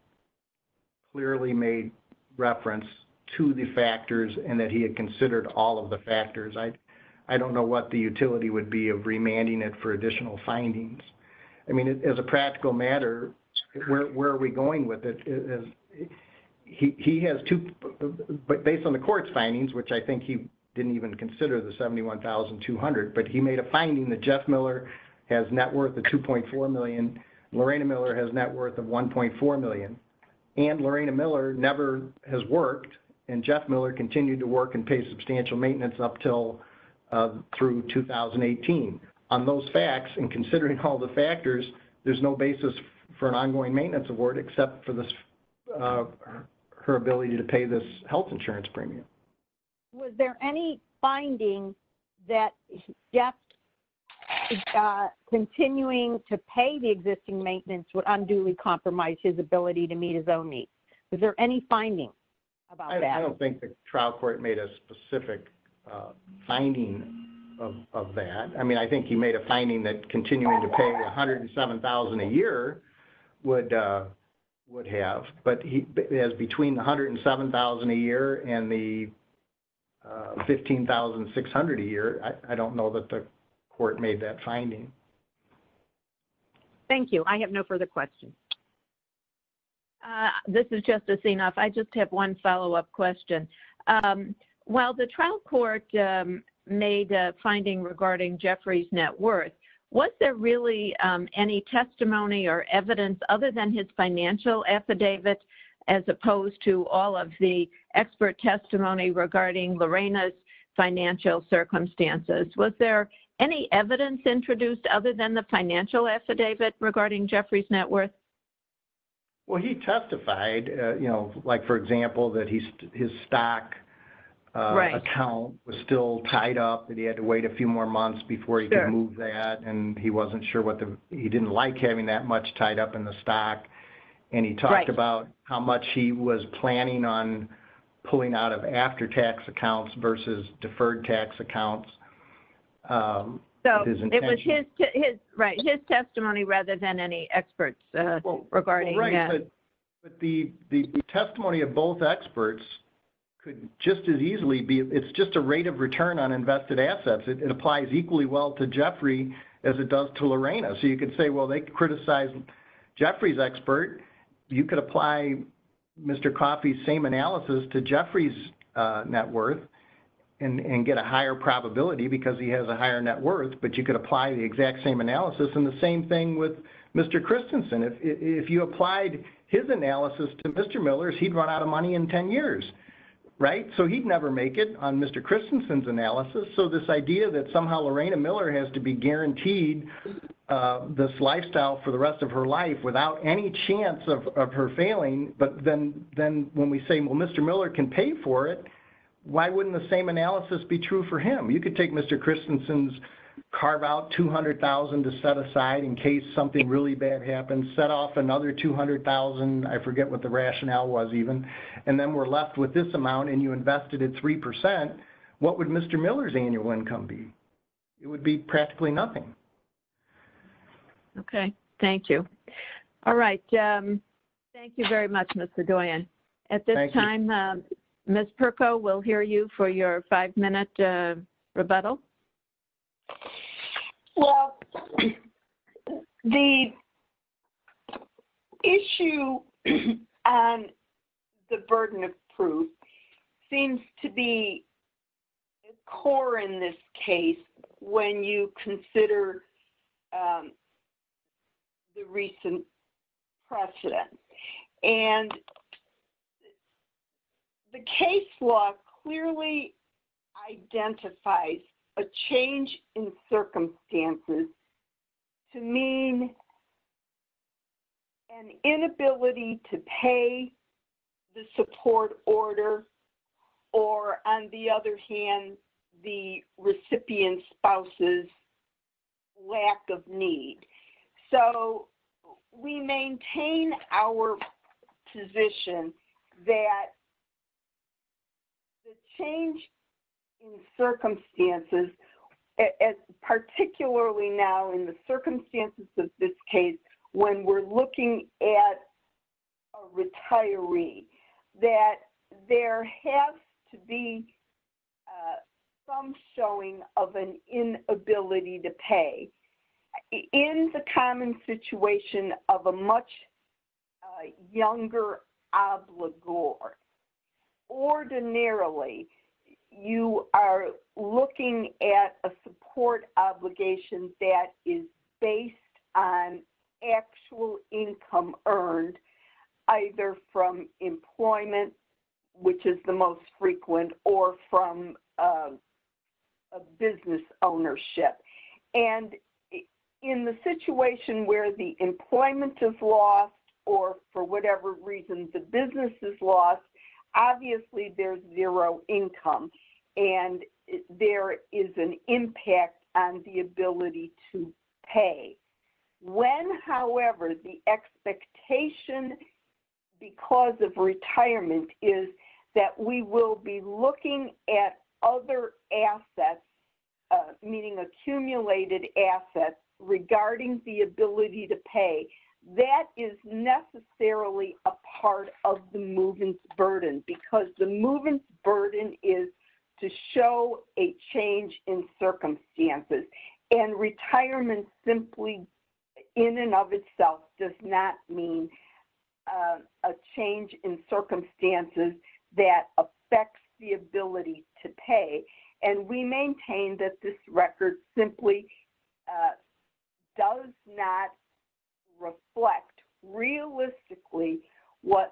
clearly made reference to the factors and that he had considered all of the factors. I don't know what the utility would be of remanding it for additional findings. I mean, as a practical matter, where are we going with it? He has two, but based on the court's findings, which I think he didn't even consider the $71,200, but he made a finding that Jeff Miller has net worth of $2.4 million. Lorena Miller has net worth of $1.4 million. And Lorena Miller never has worked, and Jeff Miller continued to work and pay substantial maintenance up till through 2018. On those facts and considering all the factors, there's no basis for an ongoing maintenance award except for her ability to pay this health insurance premium. Was there any finding that Jeff continuing to pay the existing maintenance would unduly compromise his ability to meet his own needs? Was there any finding about that? I don't think the trial court made a specific finding of that. I mean, I think he made a finding that continuing to pay $107,000 a year would have, but he has between $107,000 a year and the $15,600 a year. I don't know that the court made that finding. Thank you. I have no further questions. This is Justice Enoff. I just have one follow-up question. While the trial court made a finding regarding Jeffrey's net worth, was there really any testimony or evidence other than his financial affidavit as opposed to all of the expert testimony regarding Lorena's financial circumstances? Was there any evidence introduced other than the financial affidavit regarding Jeffrey's net worth? Well, he testified, you know, like, for example, that his stock account was still tied up and he had to wait a few more months before he could move that, and he wasn't sure what the, he didn't like having that much tied up in the stock, and he talked about how much he was planning on pulling out of after-tax accounts versus deferred-tax accounts. So, it was his testimony rather than any experts regarding that. But the testimony of both experts could just as easily be, it's just a rate of return on as it does to Lorena. So, you could say, well, they criticized Jeffrey's expert. You could apply Mr. Coffey's same analysis to Jeffrey's net worth and get a higher probability because he has a higher net worth, but you could apply the exact same analysis. And the same thing with Mr. Christensen. If you applied his analysis to Mr. Miller's, he'd run out of money in 10 years, right? So, he'd never make it on Mr. Christensen's analysis. So, this idea that somehow Lorena has to be guaranteed this lifestyle for the rest of her life without any chance of her failing, but then when we say, well, Mr. Miller can pay for it, why wouldn't the same analysis be true for him? You could take Mr. Christensen's carve out $200,000 to set aside in case something really bad happens, set off another $200,000, I forget what the rationale was even, and then we're left with this amount and you invested at 3%, what would Mr. Miller's annual income be? It would be practically nothing. Okay. Thank you. All right. Thank you very much, Mr. Doyon. At this time, Ms. Pirco, we'll hear you for your five-minute rebuttal. Well, the issue on the burden of proof seems to be the core in this case when you consider the recent precedent. And the case law clearly identifies a change in circumstances to mean an inability to pay the support order or on the other hand, the recipient spouse's lack of need. So, we maintain our position that the change in circumstances, as particularly now in the circumstances of this case, when we're looking at a retiree, that there has to be some showing of an inability to pay. In the common situation of a much younger obligor, ordinarily, you are looking at a support obligation that is based on actual income earned either from employment, which is the most frequent, or from a business ownership. And in the situation where the employment is lost, or for whatever reason, the business is lost, obviously, there's zero income. And there is an impact on the ability to pay. When, however, the expectation because of retirement is that we will be looking at other assets, meaning accumulated assets, regarding the ability to pay, that is necessarily a part of the movement's burden. Because the movement's burden is to show a change in circumstances. And retirement simply in and of itself does not mean a change in circumstances that affects the ability to pay. And we maintain that this record simply does not reflect realistically what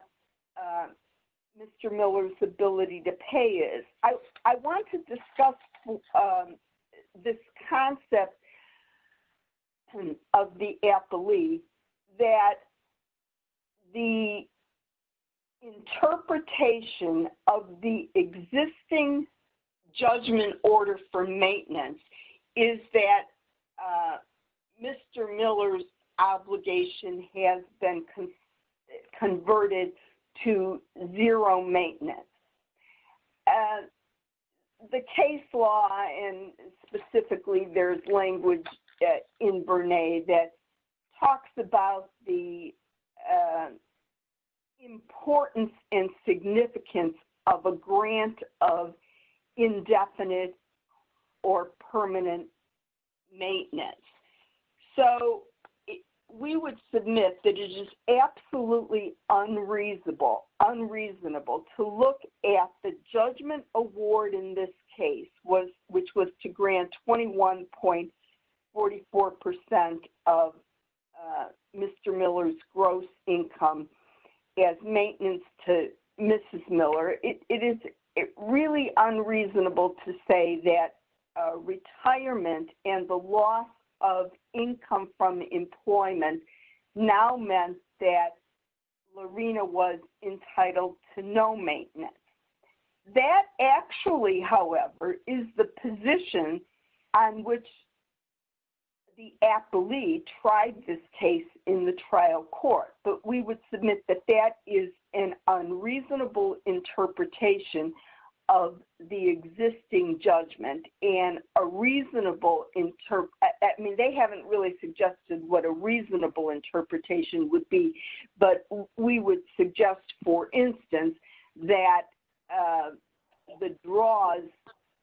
Mr. Miller's ability to pay is. I want to discuss this concept of the affilee, that the interpretation of the existing judgment order for maintenance is that Mr. Miller's obligation has been converted to zero maintenance. And the case law, and specifically there's language in Brene that talks about the importance and significance of a grant of indefinite or permanent maintenance. So, we would submit that it is absolutely unreasonable to look at the judgment award in this case, which was to grant 21.44% of Mr. Miller's gross income as maintenance to income from employment, now meant that Lorena was entitled to no maintenance. That actually, however, is the position on which the affilee tried this case in the trial court. But we would submit that that is an unreasonable interpretation of the existing judgment, and a reasonable-I mean, they haven't really suggested what a reasonable interpretation would be, but we would suggest, for instance, that the draws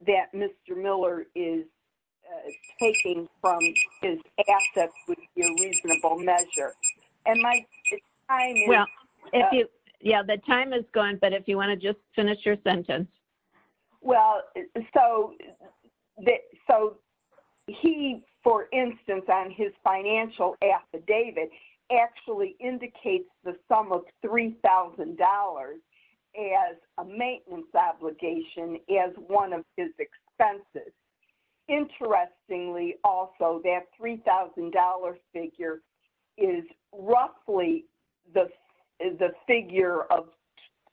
that Mr. Miller is taking from his assets would be a reasonable measure. And my time is- Well, if you-yeah, the time is gone, but if you want to just finish your sentence. Well, so, he, for instance, on his financial affidavit actually indicates the sum of $3,000 as a maintenance obligation as one of his expenses. Interestingly, also, that $3,000 figure is roughly the figure of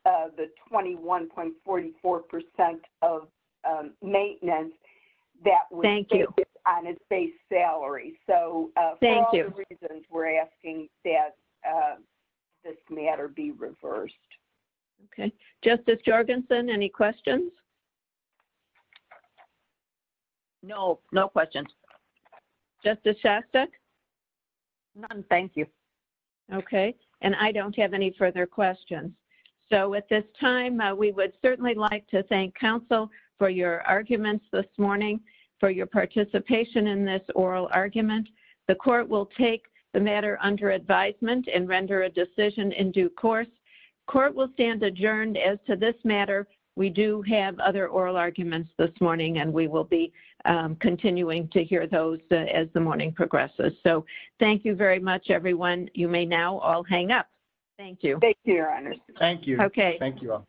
the 21.44% of maintenance that was- Thank you. On his base salary. So- Thank you. For all the reasons, we're asking that this matter be reversed. Okay. Justice Jorgensen, any questions? No, no questions. Justice Shastek? None, thank you. Okay. And I don't have any further questions. So, at this time, we would certainly like to thank counsel for your arguments this morning, for your participation in this oral argument. The court will take the matter under advisement and render a decision in due course. Court will stand adjourned as to this matter. We do have other oral arguments this morning, and we will be continuing to hear those as the morning progresses. So, thank you very much, everyone. You may now all hang up. Thank you. Thank you, Your Honor. Thank you. Okay. Thank you all. Bye-bye.